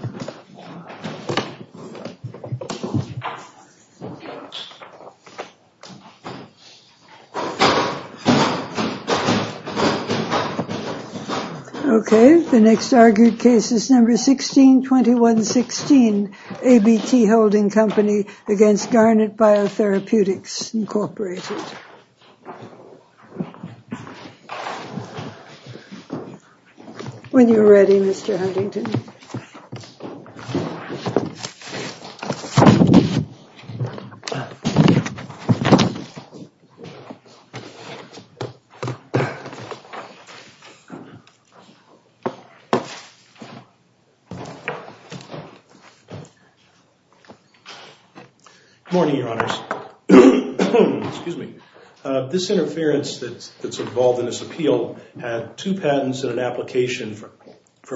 162116 ABT Holding Company v. Garnet Biotherapeutics Inc. 162116 ABT Holding Company v. Garnet Biotherapeutics Inc. Good morning, Your Honors. Excuse me. This interference that's involved in this appeal had two patents and an application for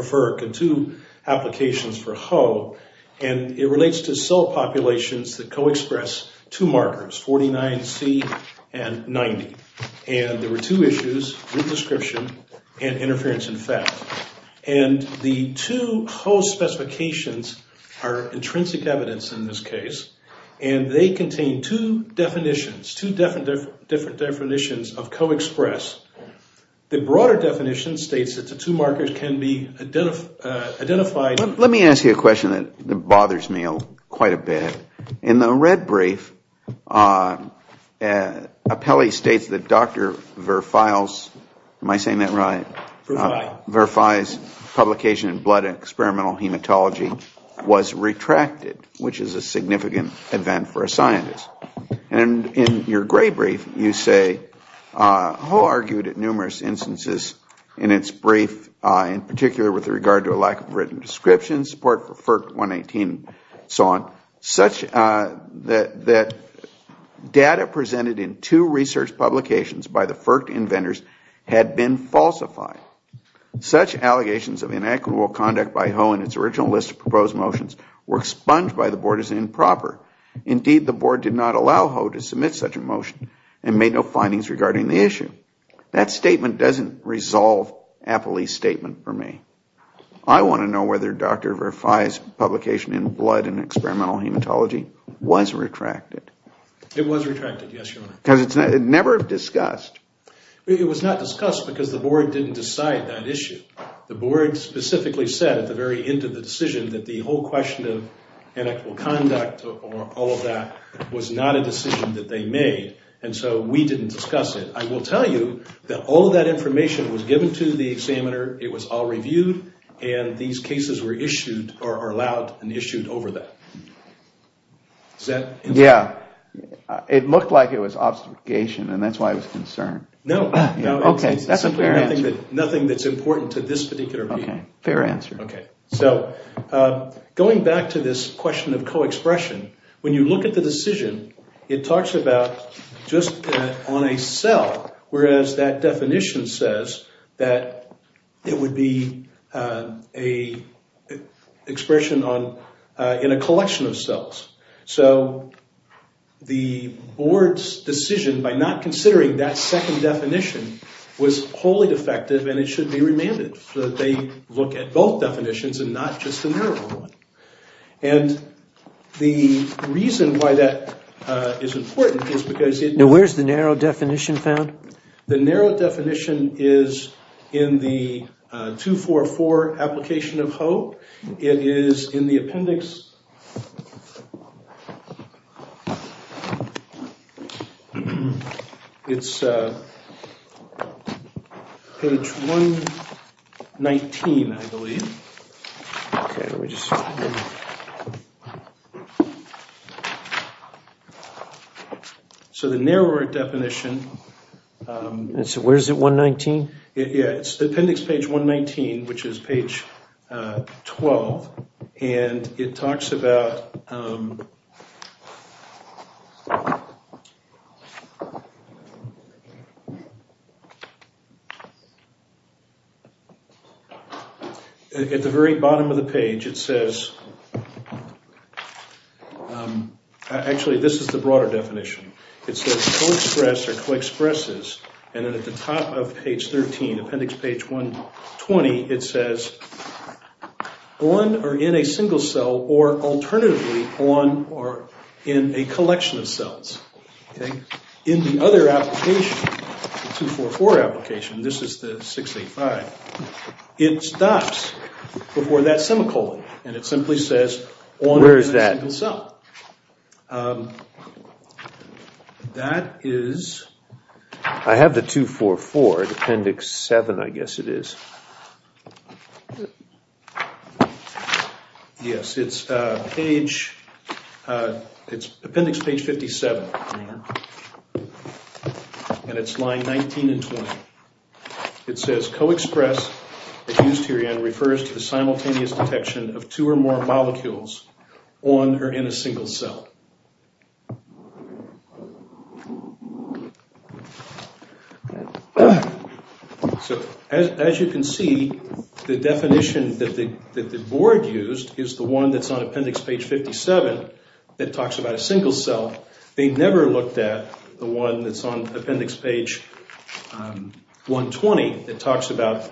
FERC and two applications for HO. And it relates to cell populations that co-express two markers, 49C and 90. And there were two issues, root description and interference in fact. And the two HO specifications are intrinsic evidence in this case. And they contain two definitions, two different definitions of co-express. The broader definition states that the two markers can be identified. Let me ask you a question that bothers me quite a bit. In the red brief, Apelli states that Dr. Verfiles, am I saying that right? Verfiles publication in blood experimental hematology was retracted, which is a significant event for a scientist. And in your gray brief, you say HO argued at numerous instances in its brief, in particular with regard to a lack of written description, support for FERC 118, such that data presented in two research publications by the FERC inventors had been falsified. Such allegations of inequitable conduct by HO in its original list of proposed motions were expunged by the board as improper. Indeed, the board did not allow HO to submit such a motion and made no findings regarding the issue. That statement doesn't resolve Apelli's statement for me. I want to know whether Dr. Verfiles' publication in blood and experimental hematology was retracted. It was retracted, yes, Your Honor. Because it's never discussed. It was not discussed because the board didn't decide that issue. The board specifically said at the very end of the decision that the whole question of inequitable conduct or all of that was not a decision that they made, and so we didn't discuss it. I will tell you that all of that information was given to the examiner. It was all reviewed, and these cases were issued or allowed and issued over that. Yeah. It looked like it was obfuscation, and that's why I was concerned. No. Okay. That's a fair answer. Nothing that's important to this particular opinion. Fair answer. Okay. So going back to this question of co-expression, when you look at the decision, it talks about just on a cell, whereas that definition says that it would be an expression in a collection of cells. So the board's decision, by not considering that second definition, was wholly defective, and it should be remanded so that they look at both definitions and not just the narrow one. And the reason why that is important is because it... Now, where's the narrow definition found? The narrow definition is in the 244 application of hope. It is in the appendix. It's page 119, I believe. Okay, let me just... Okay. So the narrower definition... Where is it, 119? Yeah, it's appendix page 119, which is page 12, and it talks about... Okay. At the very bottom of the page, it says... Actually, this is the broader definition. It says co-express or co-expresses, and then at the top of page 13, appendix page 120, it says on or in a single cell or alternatively on or in a collection of cells. In the other application, the 244 application, this is the 685, it stops before that semicolon, and it simply says on or in a single cell. Where is that? That is... I have the 244, appendix 7, I guess it is. Yes, it's page... It's appendix page 57, and it's line 19 and 20. It says co-express, if used here, and refers to the simultaneous detection of two or more molecules on or in a single cell. So, as you can see, the definition that the board used is the one that's on appendix page 57 that talks about a single cell. They never looked at the one that's on appendix page 120 that talks about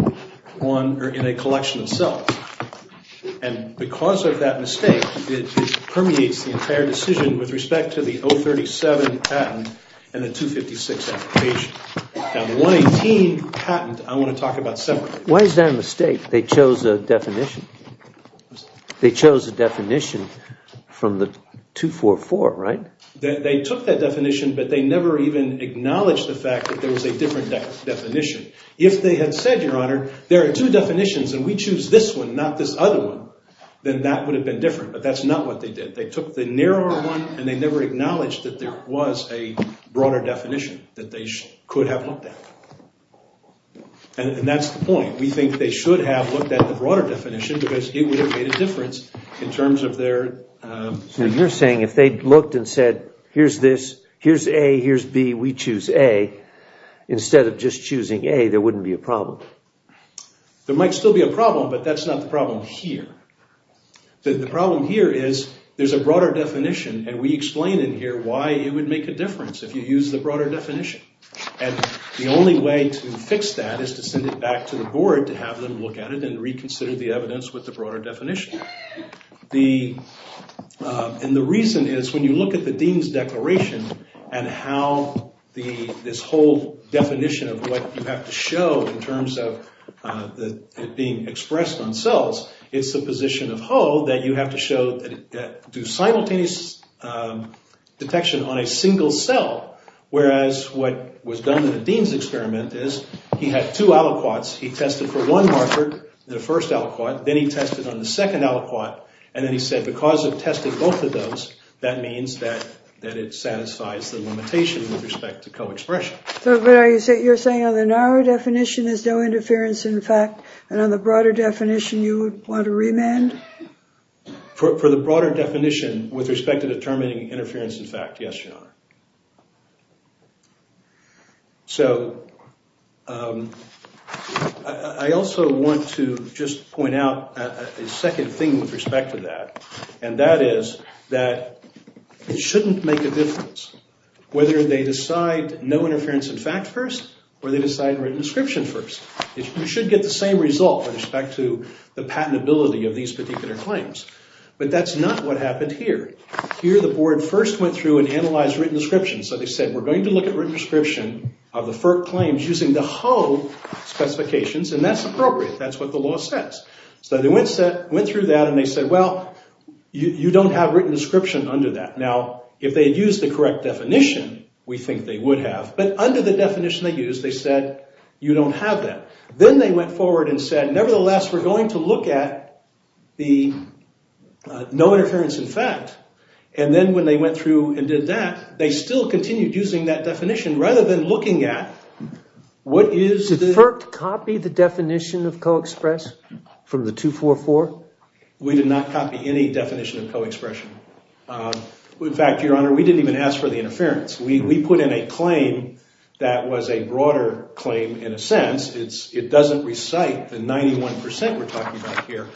one or in a collection of cells. it permeates the entire decision-making process with respect to the 037 patent and the 256 application. Now, the 118 patent, I want to talk about separately. Why is that a mistake? They chose a definition. They chose a definition from the 244, right? They took that definition, but they never even acknowledged the fact that there was a different definition. If they had said, Your Honor, there are two definitions and we choose this one, not this other one, then that would have been different, but that's not what they did. They took the narrower one and they never acknowledged that there was a broader definition that they could have looked at. And that's the point. We think they should have looked at the broader definition because it would have made a difference in terms of their... You're saying if they'd looked and said, Here's this, here's A, here's B, we choose A, instead of just choosing A, there wouldn't be a problem. There might still be a problem, but that's not the problem here. The problem here is there's a broader definition and we explain in here why it would make a difference if you use the broader definition. And the only way to fix that is to send it back to the board to have them look at it and reconsider the evidence with the broader definition. And the reason is, when you look at the dean's declaration and how this whole definition of what you have to show in terms of it being expressed on cells, it's the position of Hull that you have to do simultaneous detection on a single cell. Whereas what was done in the dean's experiment is he had two aliquots. He tested for one marker in the first aliquot, then he tested on the second aliquot, and then he said because of testing both of those, that means that it satisfies the limitation with respect to co-expression. But you're saying on the narrow definition there's no interference in fact, and on the broader definition you would want to remand? For the broader definition with respect to determining interference in fact, yes, Your Honor. So, I also want to just point out a second thing with respect to that, and that is that it shouldn't make a difference whether they decide no interference in fact first or they decide written description first. You should get the same result with respect to the patentability of these particular claims. But that's not what happened here. Here the board first went through and analyzed written description. So they said, we're going to look at written description of the FERC claims using the Hull specifications, and that's appropriate. That's what the law says. So they went through that and they said, well, you don't have written description under that. Now, if they had used the correct definition, we think they would have, but under the definition they used, they said you don't have that. Then they went forward and said, nevertheless, we're going to look at the no interference in fact, and then when they went through and did that, they still continued using that definition rather than looking at what is the... Did FERC copy the definition of co-express from the 244? We did not copy any definition of co-expression. In fact, Your Honor, we didn't even ask for the interference. We put in a claim that was a broader claim in a sense. It doesn't recite the 91% we're talking about here,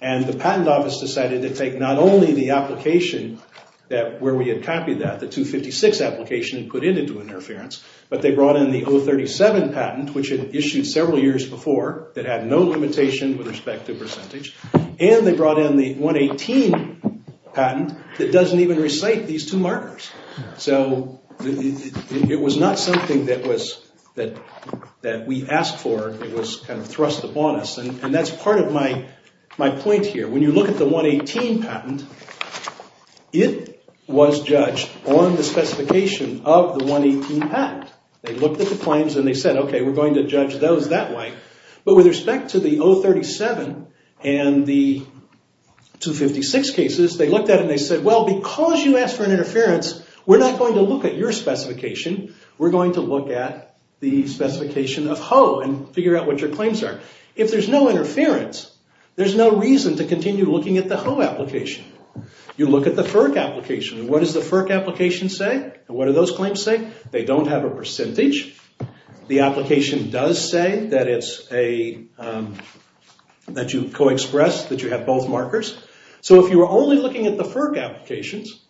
and the Patent Office decided to take not only the application where we had copied that, the 256 application, and put it into interference, but they brought in the 037 patent, which it issued several years before that had no limitation with respect to percentage, and they brought in the 118 patent that doesn't even recite these two markers. So it was not something that we asked for. It was kind of thrust upon us, and that's part of my point here. When you look at the 118 patent, it was judged on the specification of the 118 patent. They looked at the claims and they said, okay, we're going to judge those that way, but with respect to the 037 and the 256 cases, they looked at it and they said, well, because you asked for an interference, we're not going to look at your specification. We're going to look at the specification of Ho, and figure out what your claims are. If there's no interference, there's no reason to continue looking at the Ho application. You look at the FERC application. What does the FERC application say, and what do those claims say? They don't have a percentage. The application does say that it's a, that you co-expressed, that you have both markers. So if you were only looking at the FERC applications,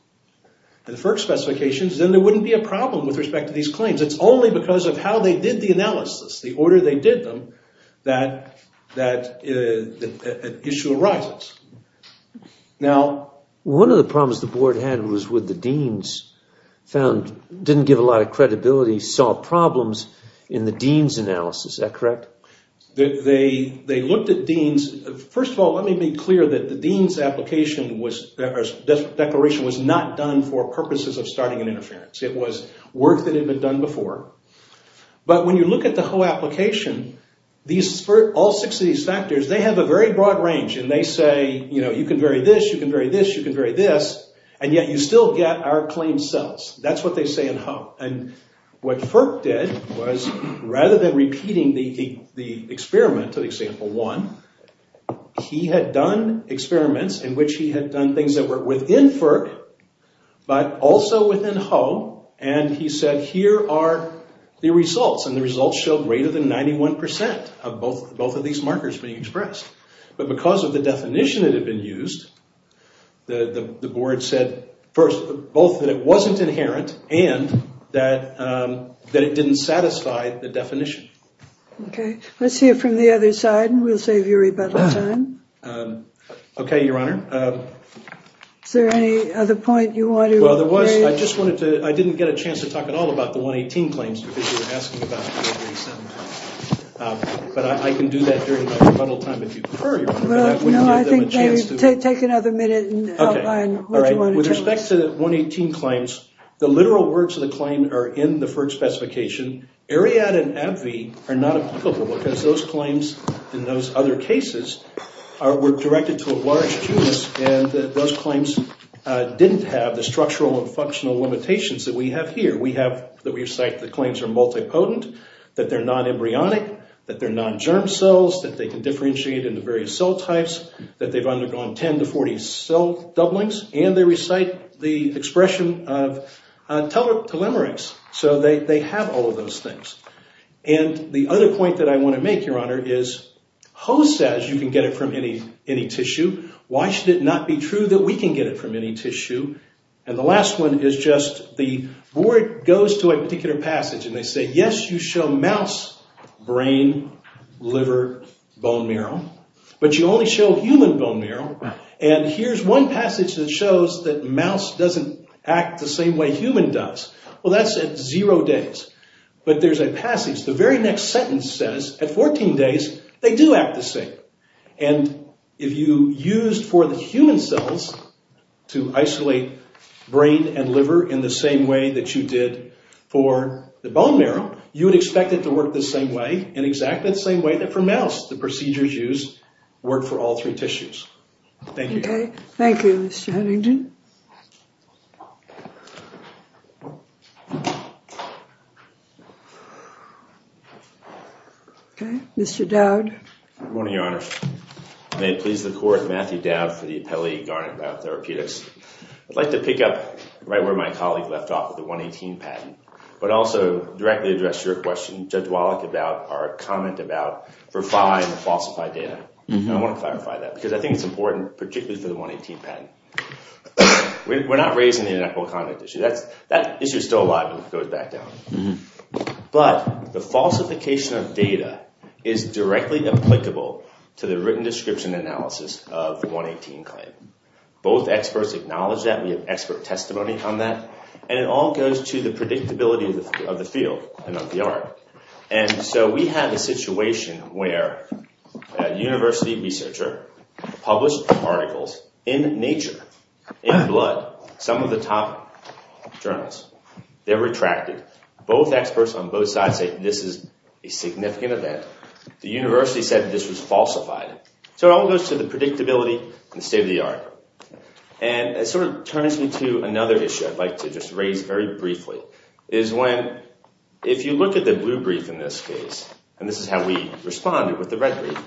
and the FERC specifications, then there wouldn't be a problem with respect to these claims. It's only because of how they did the analysis, the order they did them, that an issue arises. Now, one of the problems the board had was with the Deans, found, didn't give a lot of credibility, solved problems in the Deans' analysis. Is that correct? They looked at Deans. First of all, let me be clear that the Deans' application was, declaration was not done for purposes of starting an interference. It was work that had been done before. But when you look at the Ho application, these, all six of these factors, they have a very broad range. And they say, you know, you can vary this, you can vary this, you can vary this, and yet you still get our claim cells. That's what they say in Ho. And what FERC did was, rather than repeating the experiment, to example one, he had done experiments in which he had done things that were within FERC, but also within Ho, and he said, here are the results, and the results showed greater than 91% of both of these markers being expressed. But because of the definition that had been used, the board said, first, both that it wasn't inherent, and that it didn't satisfy the definition. Okay, let's hear from the other side, and we'll save you rebuttal time. Okay, Your Honor. Is there any other point you want to vary? Well, there was, I just wanted to, I didn't get a chance to talk at all about the 118 claims, because you were asking about the 137 claims. But I can do that during my rebuttal time if you prefer, Your Honor, but I wouldn't give them a chance to. Well, no, I think maybe take another minute and outline what you want to tell us. Okay, all right, with respect to the 118 claims, the literal words of the claim are in the FERC specification. The Ariadne and AbbVie are not applicable, because those claims, in those other cases, were directed to a large genus, and those claims didn't have the structural and functional limitations that we have here. We have that we recite the claims are multipotent, that they're non-embryonic, that they're non-germ cells, that they can differentiate into various cell types, that they've undergone 10 to 40 cell doublings, and they recite the expression of telomerase. So they have all of those things. And the other point that I want to make, Your Honor, is Ho says you can get it from any tissue. Why should it not be true that we can get it from any tissue? And the last one is just the board goes to a particular passage, and they say, yes, you show mouse, brain, liver, bone marrow, but you only show human bone marrow. And here's one passage that shows that mouse doesn't act the same way human does. Well, that's at zero days. But there's a passage, the very next sentence says, at 14 days, they do act the same. And if you used for the human cells to isolate brain and liver in the same way that you did for the bone marrow, you would expect it to work the same way, in exactly the same way that for mouse, the procedures used work for all three tissues. Thank you. Thank you, Mr. Huntington. Okay. Mr. Dowd. Good morning, Your Honor. May it please the court, Matthew Dowd for the Appellee Garnet Biotherapeutics. I'd like to pick up right where my colleague left off with the 118 patent, but also directly address your question, Judge Wallach, about our comment about for FI and falsified data. And I want to clarify that, because I think it's important, particularly for the 118 patent. We're not raising the inequitable conduct issue. That issue is something that's been raised and is still alive and goes back down. But the falsification of data is directly applicable to the written description analysis of the 118 claim. Both experts acknowledge that. We have expert testimony on that. And it all goes to the predictability of the field and of the art. And so we have a situation where a university researcher published articles in Nature, in Blood, some of the top journals. They're retracted. Both experts on both sides say this is a significant event. The university said this was falsified. So it all goes to the predictability and the state of the art. And it sort of turns me to another issue I'd like to just raise very briefly, is when, if you look at the blue brief in this case, and this is how we responded with the red brief,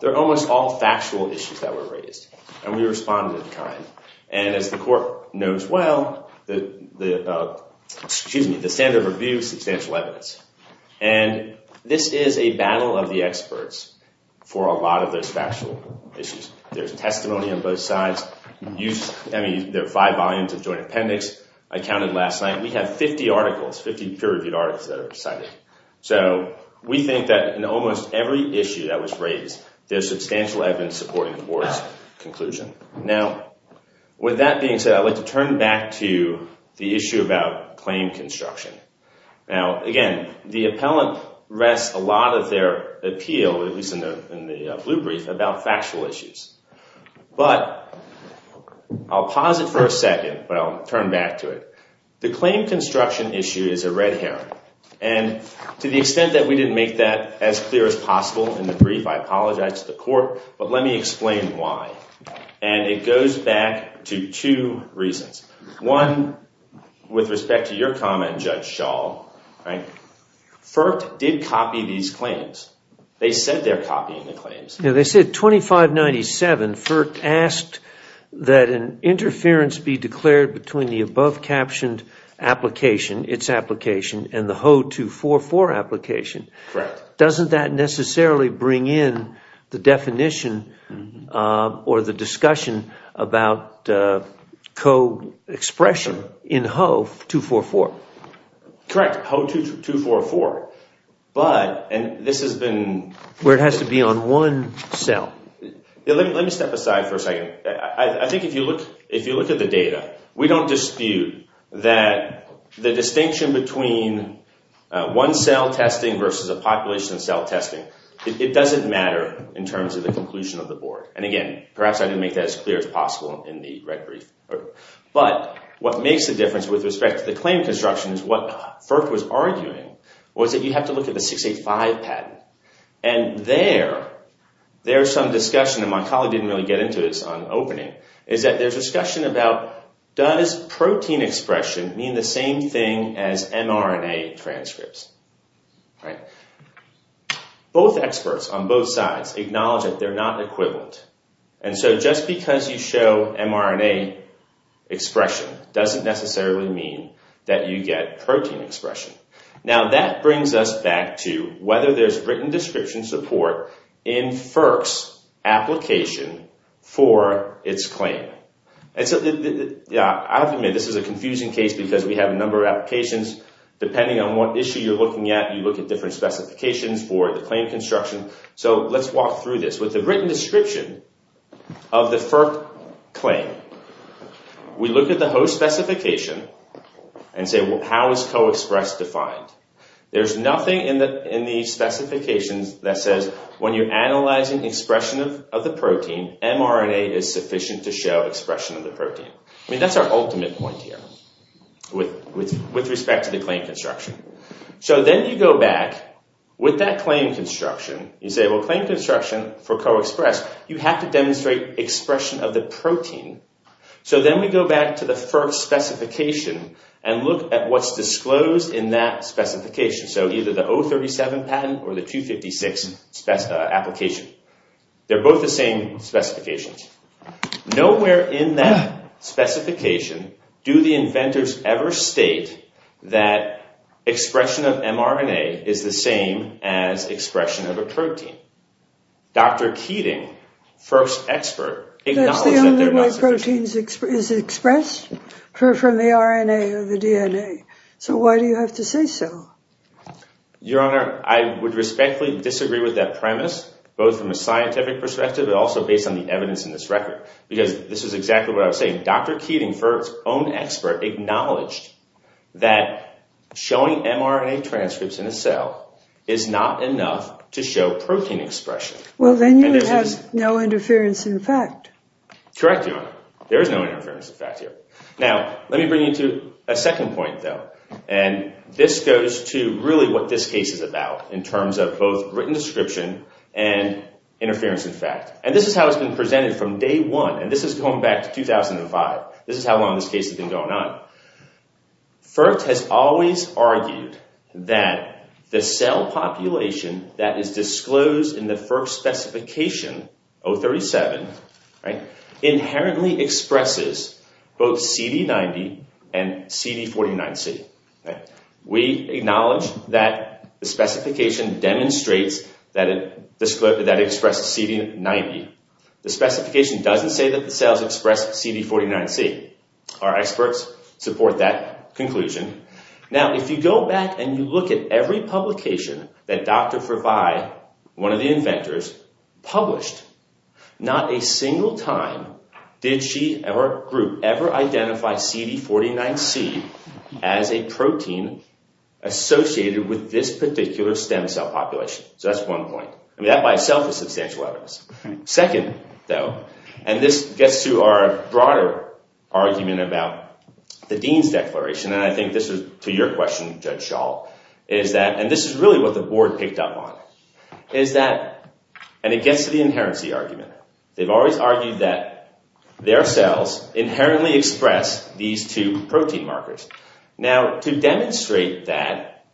they're almost all factual issues that were raised. And we responded in kind. And as the court knows well, the standard of review is substantial evidence. And this is a battle of the experts for a lot of those factual issues. There's testimony on both sides. There are five volumes of joint appendix. I counted last night. We have 50 articles, 50 peer-reviewed articles that are cited. So we think that in almost every issue that was raised, there's substantial evidence supporting the board's conclusion. Now, with that being said, I'd like to turn back to the issue about claim construction. Now, again, the appellant rests a lot of their appeal, at least in the blue brief, about factual issues. But I'll pause it for a second, but I'll turn back to it. The claim construction issue is a red herring. And to the extent that we didn't make that as clear as possible in the brief, I apologize to the court. But let me explain why. And it goes back to two reasons. One, with respect to your comment, Judge Schall, FERC did copy these claims. They said they're copying the claims. Yeah, they said 2597, FERC asked that an interference be declared between the above-captioned application, its application, and the HO 244 application. Correct. Doesn't that necessarily bring in the definition or the discussion about co-expression in HO 244? Correct, HO 244. But, and this has been- Where it has to be on one cell. Let me step aside for a second. I think if you look at the data, we don't dispute that the distinction between one-cell testing versus a population-cell testing, it doesn't matter in terms of the conclusion of the board. And again, perhaps I didn't make that as clear as possible in the red brief. But what makes the difference with respect to the claim construction is what FERC was arguing, was that you have to look at the 685 patent. And there, there's some discussion, and my colleague didn't really get into this on opening, is that there's discussion about, does protein expression mean the same thing as mRNA transcripts? Both experts on both sides acknowledge that they're not equivalent. And so just because you show mRNA expression doesn't necessarily mean that you get protein expression. Now that brings us back to whether there's written description support in FERC's application for its claim. I have to admit, this is a confusing case because we have a number of applications. Depending on what issue you're looking at, you look at different specifications for the claim construction. So let's walk through this. With the written description of the FERC claim, we look at the host specification and say, how is co-express defined? There's nothing in the specifications that says, when you're analyzing expression of the protein, mRNA is sufficient to show expression of the protein. I mean, that's our ultimate point here with respect to the claim construction. So then you go back. With that claim construction, you say, well, claim construction for co-express, you have to demonstrate expression of the protein. So then we go back to the FERC specification and look at what's disclosed in that specification. So either the 037 patent or the 256 application. They're both the same specifications. Nowhere in that specification do the inventors ever state that expression of mRNA is the same as expression of a protein. Dr. Keating, FERC's expert, acknowledged that they're not sufficient. That's the only way protein is expressed? From the RNA or the DNA. So why do you have to say so? Your Honor, I would respectfully disagree with that premise, both from a scientific perspective, but also based on the evidence in this record. Because this is exactly what I was saying. Dr. Keating, FERC's own expert, acknowledged that showing mRNA transcripts in a cell is not enough to show protein expression. Well, then you would have no interference in fact. Correct, Your Honor. There is no interference in fact here. Now, let me bring you to a second point, though. And this goes to really what this case is about in terms of both written description and interference in fact. And this is how it's been presented from day one. And this is going back to 2005. This is how long this case has been going on. FERC has always argued that the cell population that is disclosed in the FERC specification, O37, inherently expresses both CD90 and CD49C. We acknowledge that the specification demonstrates that it expresses CD90. The specification doesn't say that the cells express CD49C. Our experts support that conclusion. Now, if you go back and you look at every publication that Dr. Fervai, one of the inventors, published, not a single time did she or her group ever identify CD49C as a protein associated with this particular stem cell population. So that's one point. I mean, that by itself is substantial evidence. Second, though, and this gets to our broader argument about the Dean's Declaration, and I think this is to your question, Judge Schall, is that, and this is really what the board picked up on, is that, and it gets to the inherency argument. They've always argued that their cells inherently express these two protein markers. Now, to demonstrate that,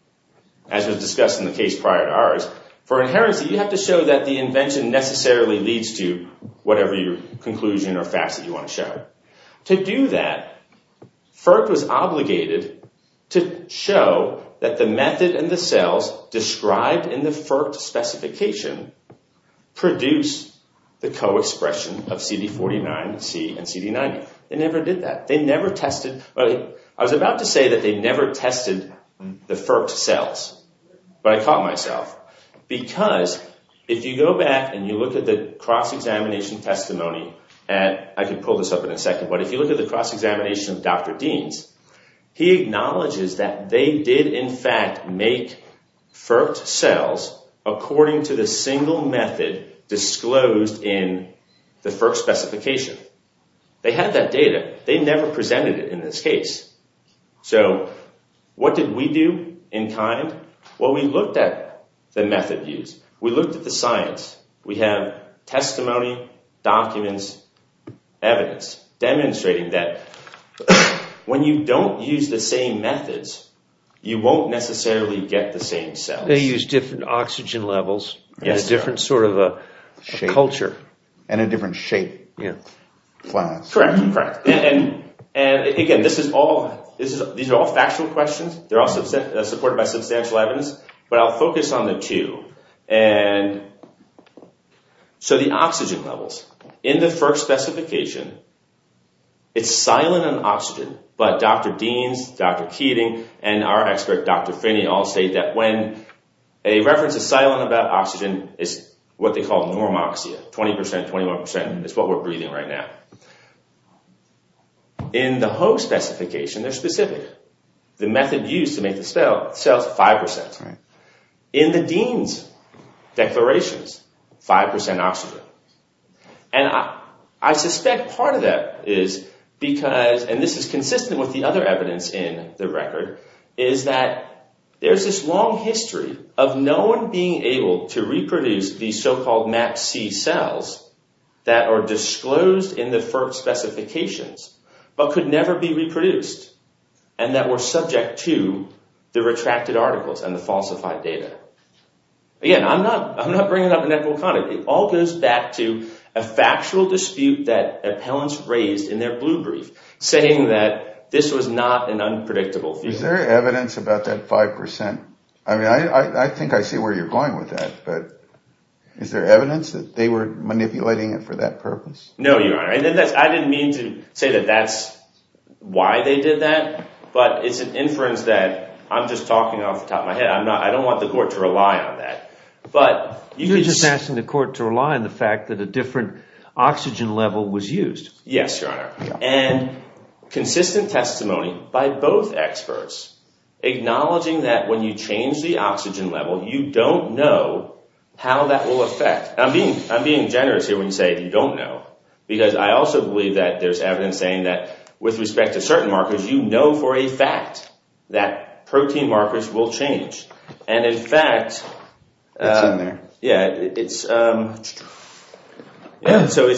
as was discussed in the case prior to ours, for inherency, you have to show that the invention necessarily leads to whatever conclusion or facet you want to show. To do that, FERC was obligated to show that the method and the cells described in the FERC specification produce the co-expression of CD49C and CD90. They never did that. They never tested, I was about to say that they never tested the FERC cells, but I caught myself. Because if you go back and you look at the cross-examination testimony, and I can pull this up in a second, but if you look at the cross-examination of Dr. Dean's, he acknowledges that they did, in fact, make FERC cells according to the single method disclosed in the FERC specification. They had that data. They never presented it in this case. So what did we do in kind? Well, we looked at the method used. We looked at the science. We have testimony, documents, evidence, demonstrating that when you don't use the same methods, you won't necessarily get the same cells. They used different oxygen levels and a different sort of culture. And a different shape. Correct, correct. And again, these are all factual questions. They're all supported by substantial evidence, but I'll focus on the two. So the oxygen levels. In the FERC specification, it's silent on oxygen, but Dr. Dean's, Dr. Keating, and our expert, Dr. Finney, all state that when a reference is silent about oxygen, it's what they call normoxia, 20%, 21%. It's what we're breathing right now. In the Hoag specification, they're specific. The method used to make the cell is 5%. In the Dean's declarations, 5% oxygen. And I suspect part of that is because, and this is consistent with the other evidence in the record, is that there's this long history of no one being able to reproduce these so-called MAPC cells that are disclosed in the FERC specifications, but could never be reproduced, and that were subject to the retracted articles and the falsified data. Again, I'm not bringing up an ethnoconic. It all goes back to a factual dispute that appellants raised in their blue brief, saying that this was not an unpredictable field. Is there evidence about that 5%? I mean, I think I see where you're going with that, but is there evidence that they were manipulating it for that purpose? No, Your Honor. I didn't mean to say that that's why they did that, but it's an inference that I'm just talking off the top of my head. I don't want the court to rely on that. You're just asking the court to rely on the fact that a different oxygen level was used. Yes, Your Honor. And consistent testimony by both experts, acknowledging that when you change the oxygen level, you don't know how that will affect. I'm being generous here when you say you don't know, because I also believe that there's evidence saying that with respect to certain markers, you know for a fact that protein markers will change. And in fact, it's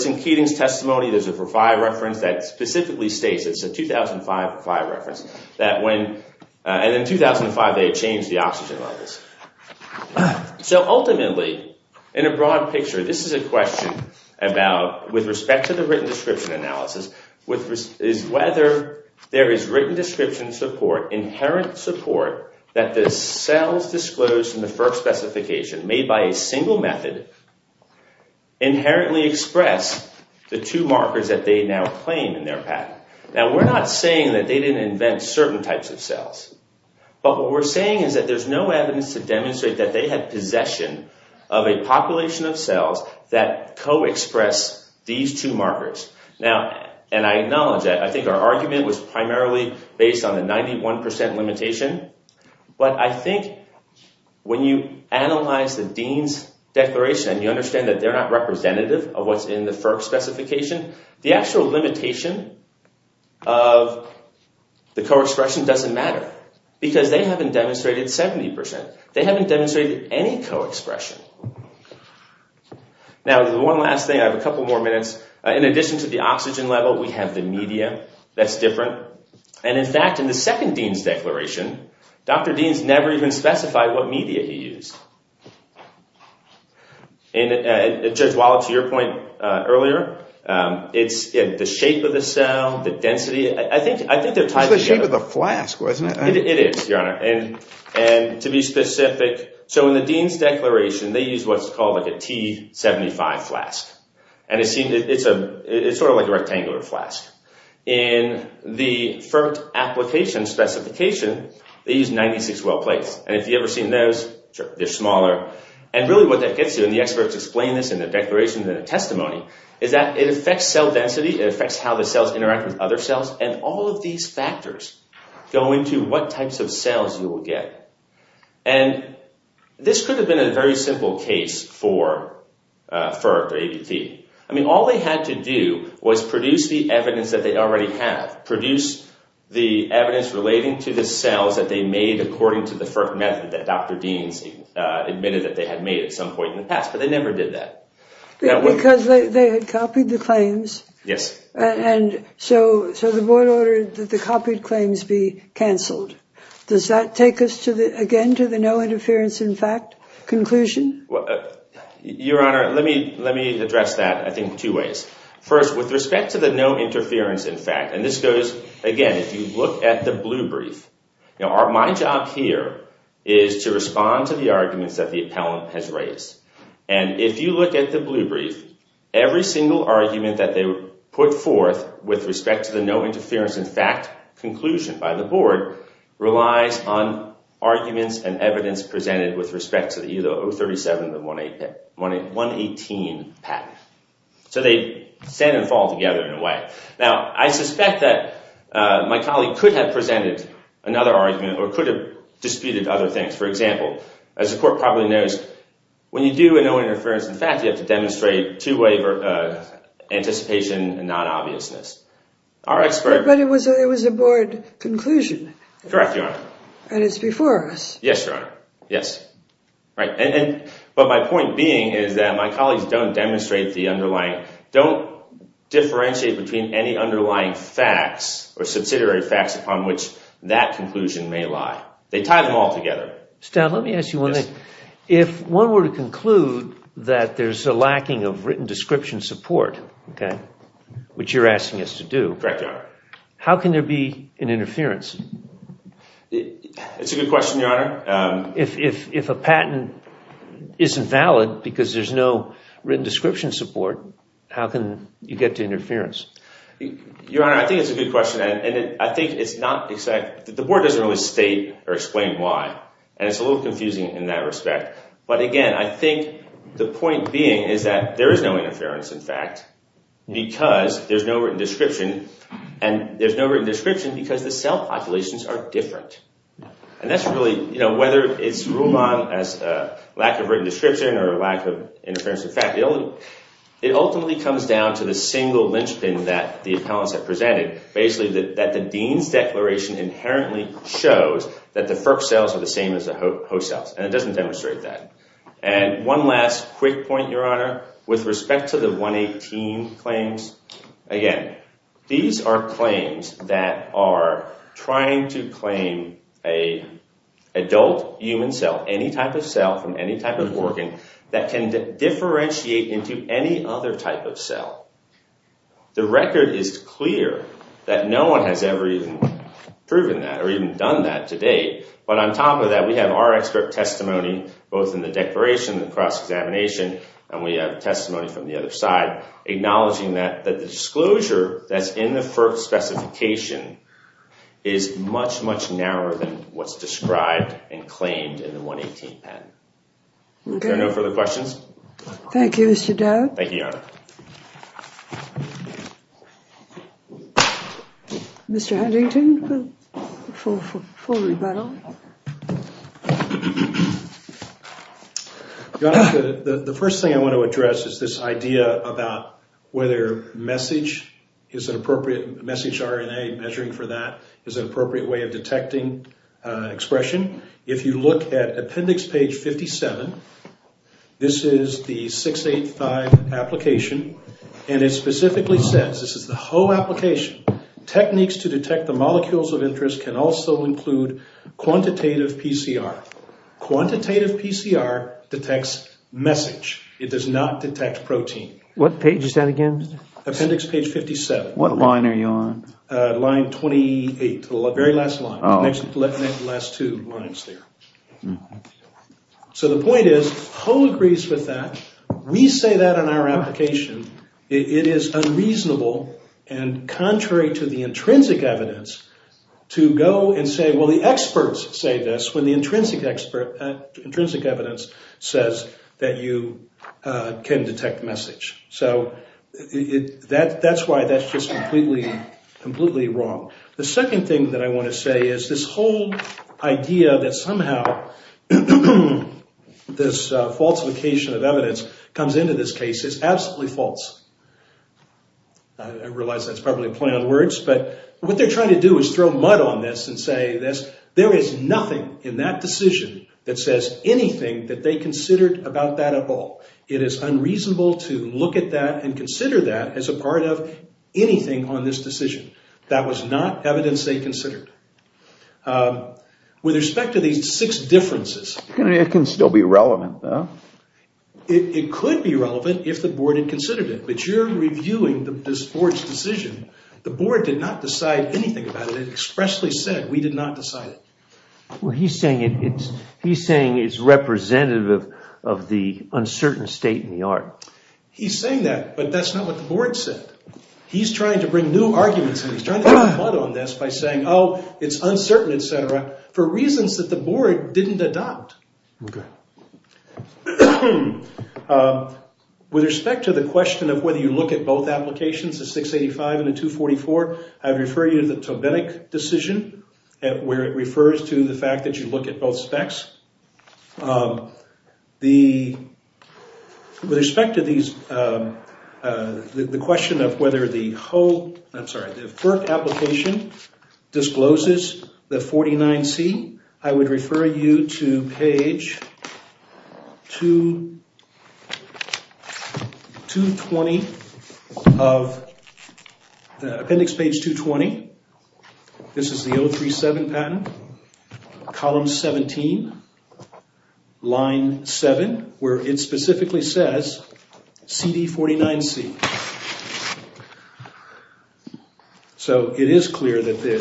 in Keating's testimony. There's a profile reference that specifically states, it's a 2005 profile reference, and in 2005 they had changed the oxygen levels. So ultimately, in a broad picture, this is a question about, with respect to the written description analysis, is whether there is written description support, inherent support, that the cells disclosed in the first specification, made by a single method, inherently express the two markers that they now claim in their patent. Now, we're not saying that they didn't invent certain types of cells. But what we're saying is that there's no evidence to demonstrate that they had possession of a population of cells that co-expressed these two markers. Now, and I acknowledge that. I think our argument was primarily based on the 91% limitation. But I think when you analyze the Dean's declaration, and you understand that they're not representative of what's in the first specification, the actual limitation of the co-expression doesn't matter. Because they haven't demonstrated 70%. They haven't demonstrated any co-expression. Now, the one last thing, I have a couple more minutes. In addition to the oxygen level, we have the medium. That's different. And, in fact, in the second Dean's declaration, Dr. Dean's never even specified what media he used. And, Judge Wallet, to your point earlier, it's the shape of the cell, the density. I think they're tied together. It's the shape of the flask, wasn't it? It is, Your Honor. And to be specific, so in the Dean's declaration, they used what's called a T75 flask. And it's sort of like a rectangular flask. In the FERC application specification, they used 96-well plates. And if you've ever seen those, they're smaller. And really what that gets you, and the experts explain this in their declarations and their testimony, is that it affects cell density. It affects how the cells interact with other cells. And all of these factors go into what types of cells you will get. And this could have been a very simple case for FERC or ADT. I mean, all they had to do was produce the evidence that they already had. Produce the evidence relating to the cells that they made according to the FERC method that Dr. Dean admitted that they had made at some point in the past. But they never did that. Because they had copied the claims. Yes. And so the board ordered that the copied claims be canceled. Does that take us again to the no interference in fact conclusion? Your Honor, let me address that, I think, two ways. First, with respect to the no interference in fact. And this goes, again, if you look at the blue brief. My job here is to respond to the arguments that the appellant has raised. And if you look at the blue brief, every single argument that they put forth with respect to the no interference in fact conclusion by the board relies on arguments and evidence presented with respect to either the 037 or the 118 patent. So they stand and fall together in a way. Now, I suspect that my colleague could have presented another argument or could have disputed other things. For example, as the court probably knows, when you do a no interference in fact, you have to demonstrate two-way anticipation and non-obviousness. But it was a board conclusion. Correct, Your Honor. And it's before us. Yes, Your Honor. Yes. But my point being is that my colleagues don't differentiate between any underlying facts or subsidiary facts upon which that conclusion may lie. They tie them all together. Stan, let me ask you one thing. If one were to conclude that there's a lacking of written description support, which you're asking us to do, how can there be an interference? It's a good question, Your Honor. If a patent isn't valid because there's no written description support, how can you get to interference? Your Honor, I think it's a good question. And I think it's not exact. The board doesn't really state or explain why. And it's a little confusing in that respect. But, again, I think the point being is that there is no interference in fact because there's no written description. And there's no written description because the cell populations are different. And that's really, you know, whether it's Rulon as lack of written description or lack of interference in fact, it ultimately comes down to the single linchpin that the appellants have presented, basically that the Dean's Declaration inherently shows that the FERC cells are the same as the host cells. And it doesn't demonstrate that. And one last quick point, Your Honor, with respect to the 118 claims, again, these are claims that are trying to claim an adult human cell, any type of cell from any type of organ that can differentiate into any other type of cell. The record is clear that no one has ever even proven that or even done that to date. But on top of that, we have our expert testimony both in the declaration, the cross-examination, and we have testimony from the other side acknowledging that the disclosure that's in the FERC specification is much, much narrower than what's described and claimed in the 118 patent. Are there no further questions? Thank you, Mr. Doe. Thank you, Your Honor. Mr. Huntington for rebuttal. Your Honor, the first thing I want to address is this idea about whether message is an appropriate, message RNA measuring for that is an appropriate way of detecting expression. If you look at appendix page 57, this is the 685 application, and it specifically says, this is the whole application, techniques to detect the molecules of interest can also include quantitative PCR. Quantitative PCR detects message. It does not detect protein. What page is that again? Appendix page 57. What line are you on? Line 28, the very last line. The last two lines there. So the point is, Hoh agrees with that. We say that in our application. It is unreasonable and contrary to the intrinsic evidence to go and say, well, the experts say this, when the intrinsic evidence says that you can detect message. So that's why that's just completely wrong. The second thing that I want to say is this whole idea that somehow this falsification of evidence comes into this case is absolutely false. I realize that's probably a play on words, but what they're trying to do is throw mud on this and say, there is nothing in that decision that says anything that they considered about that at all. It is unreasonable to look at that and consider that as a part of anything on this decision. That was not evidence they considered. With respect to these six differences. It can still be relevant, though. It could be relevant if the board had considered it, but you're reviewing this board's decision. The board did not decide anything about it. It expressly said we did not decide it. Well, he's saying it's representative of the uncertain state in the art. He's saying that, but that's not what the board said. He's trying to bring new arguments in. He's trying to throw mud on this by saying, oh, it's uncertain, et cetera, for reasons that the board didn't adopt. With respect to the question of whether you look at both applications, the 685 and the 244, I'd refer you to the Tobetic decision, where it refers to the fact that you look at both specs. With respect to the question of whether the FERC application discloses the 49C, I would refer you to appendix page 220. This is the 037 pattern. Column 17, line 7, where it specifically says CD 49C. It is clear that CD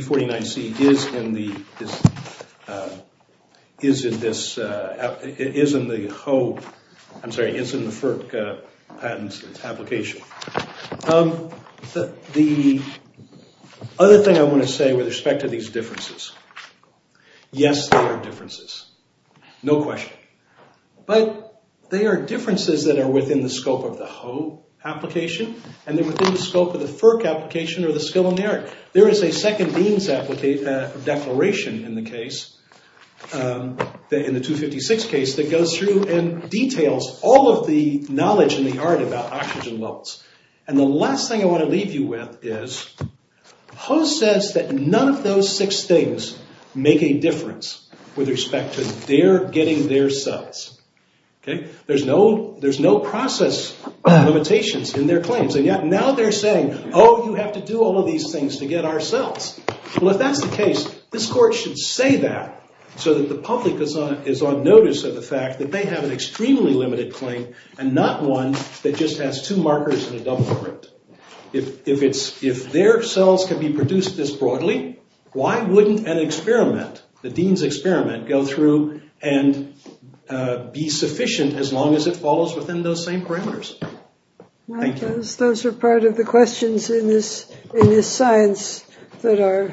49C is in the FERC patent application. The other thing I want to say with respect to these differences, yes, they are different. No question. But they are differences that are within the scope of the Ho application, and they're within the scope of the FERC application or the skill in the art. There is a second dean's declaration in the case, in the 256 case, that goes through and details all of the knowledge in the art about oxygen levels. And the last thing I want to leave you with is, Ho says that none of those six things make a difference with respect to their getting their cells. There's no process limitations in their claims. And yet now they're saying, oh, you have to do all of these things to get our cells. Well, if that's the case, this court should say that, so that the public is on notice of the fact that they have an extremely limited claim, and not one that just has two markers and a double print. If their cells can be produced this broadly, why wouldn't an experiment, the dean's experiment, go through and be sufficient as long as it follows within those same parameters? Thank you. Those are part of the questions in this science that are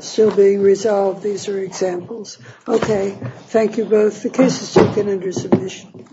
still being resolved. These are examples. Okay, thank you both. The case is taken under submission.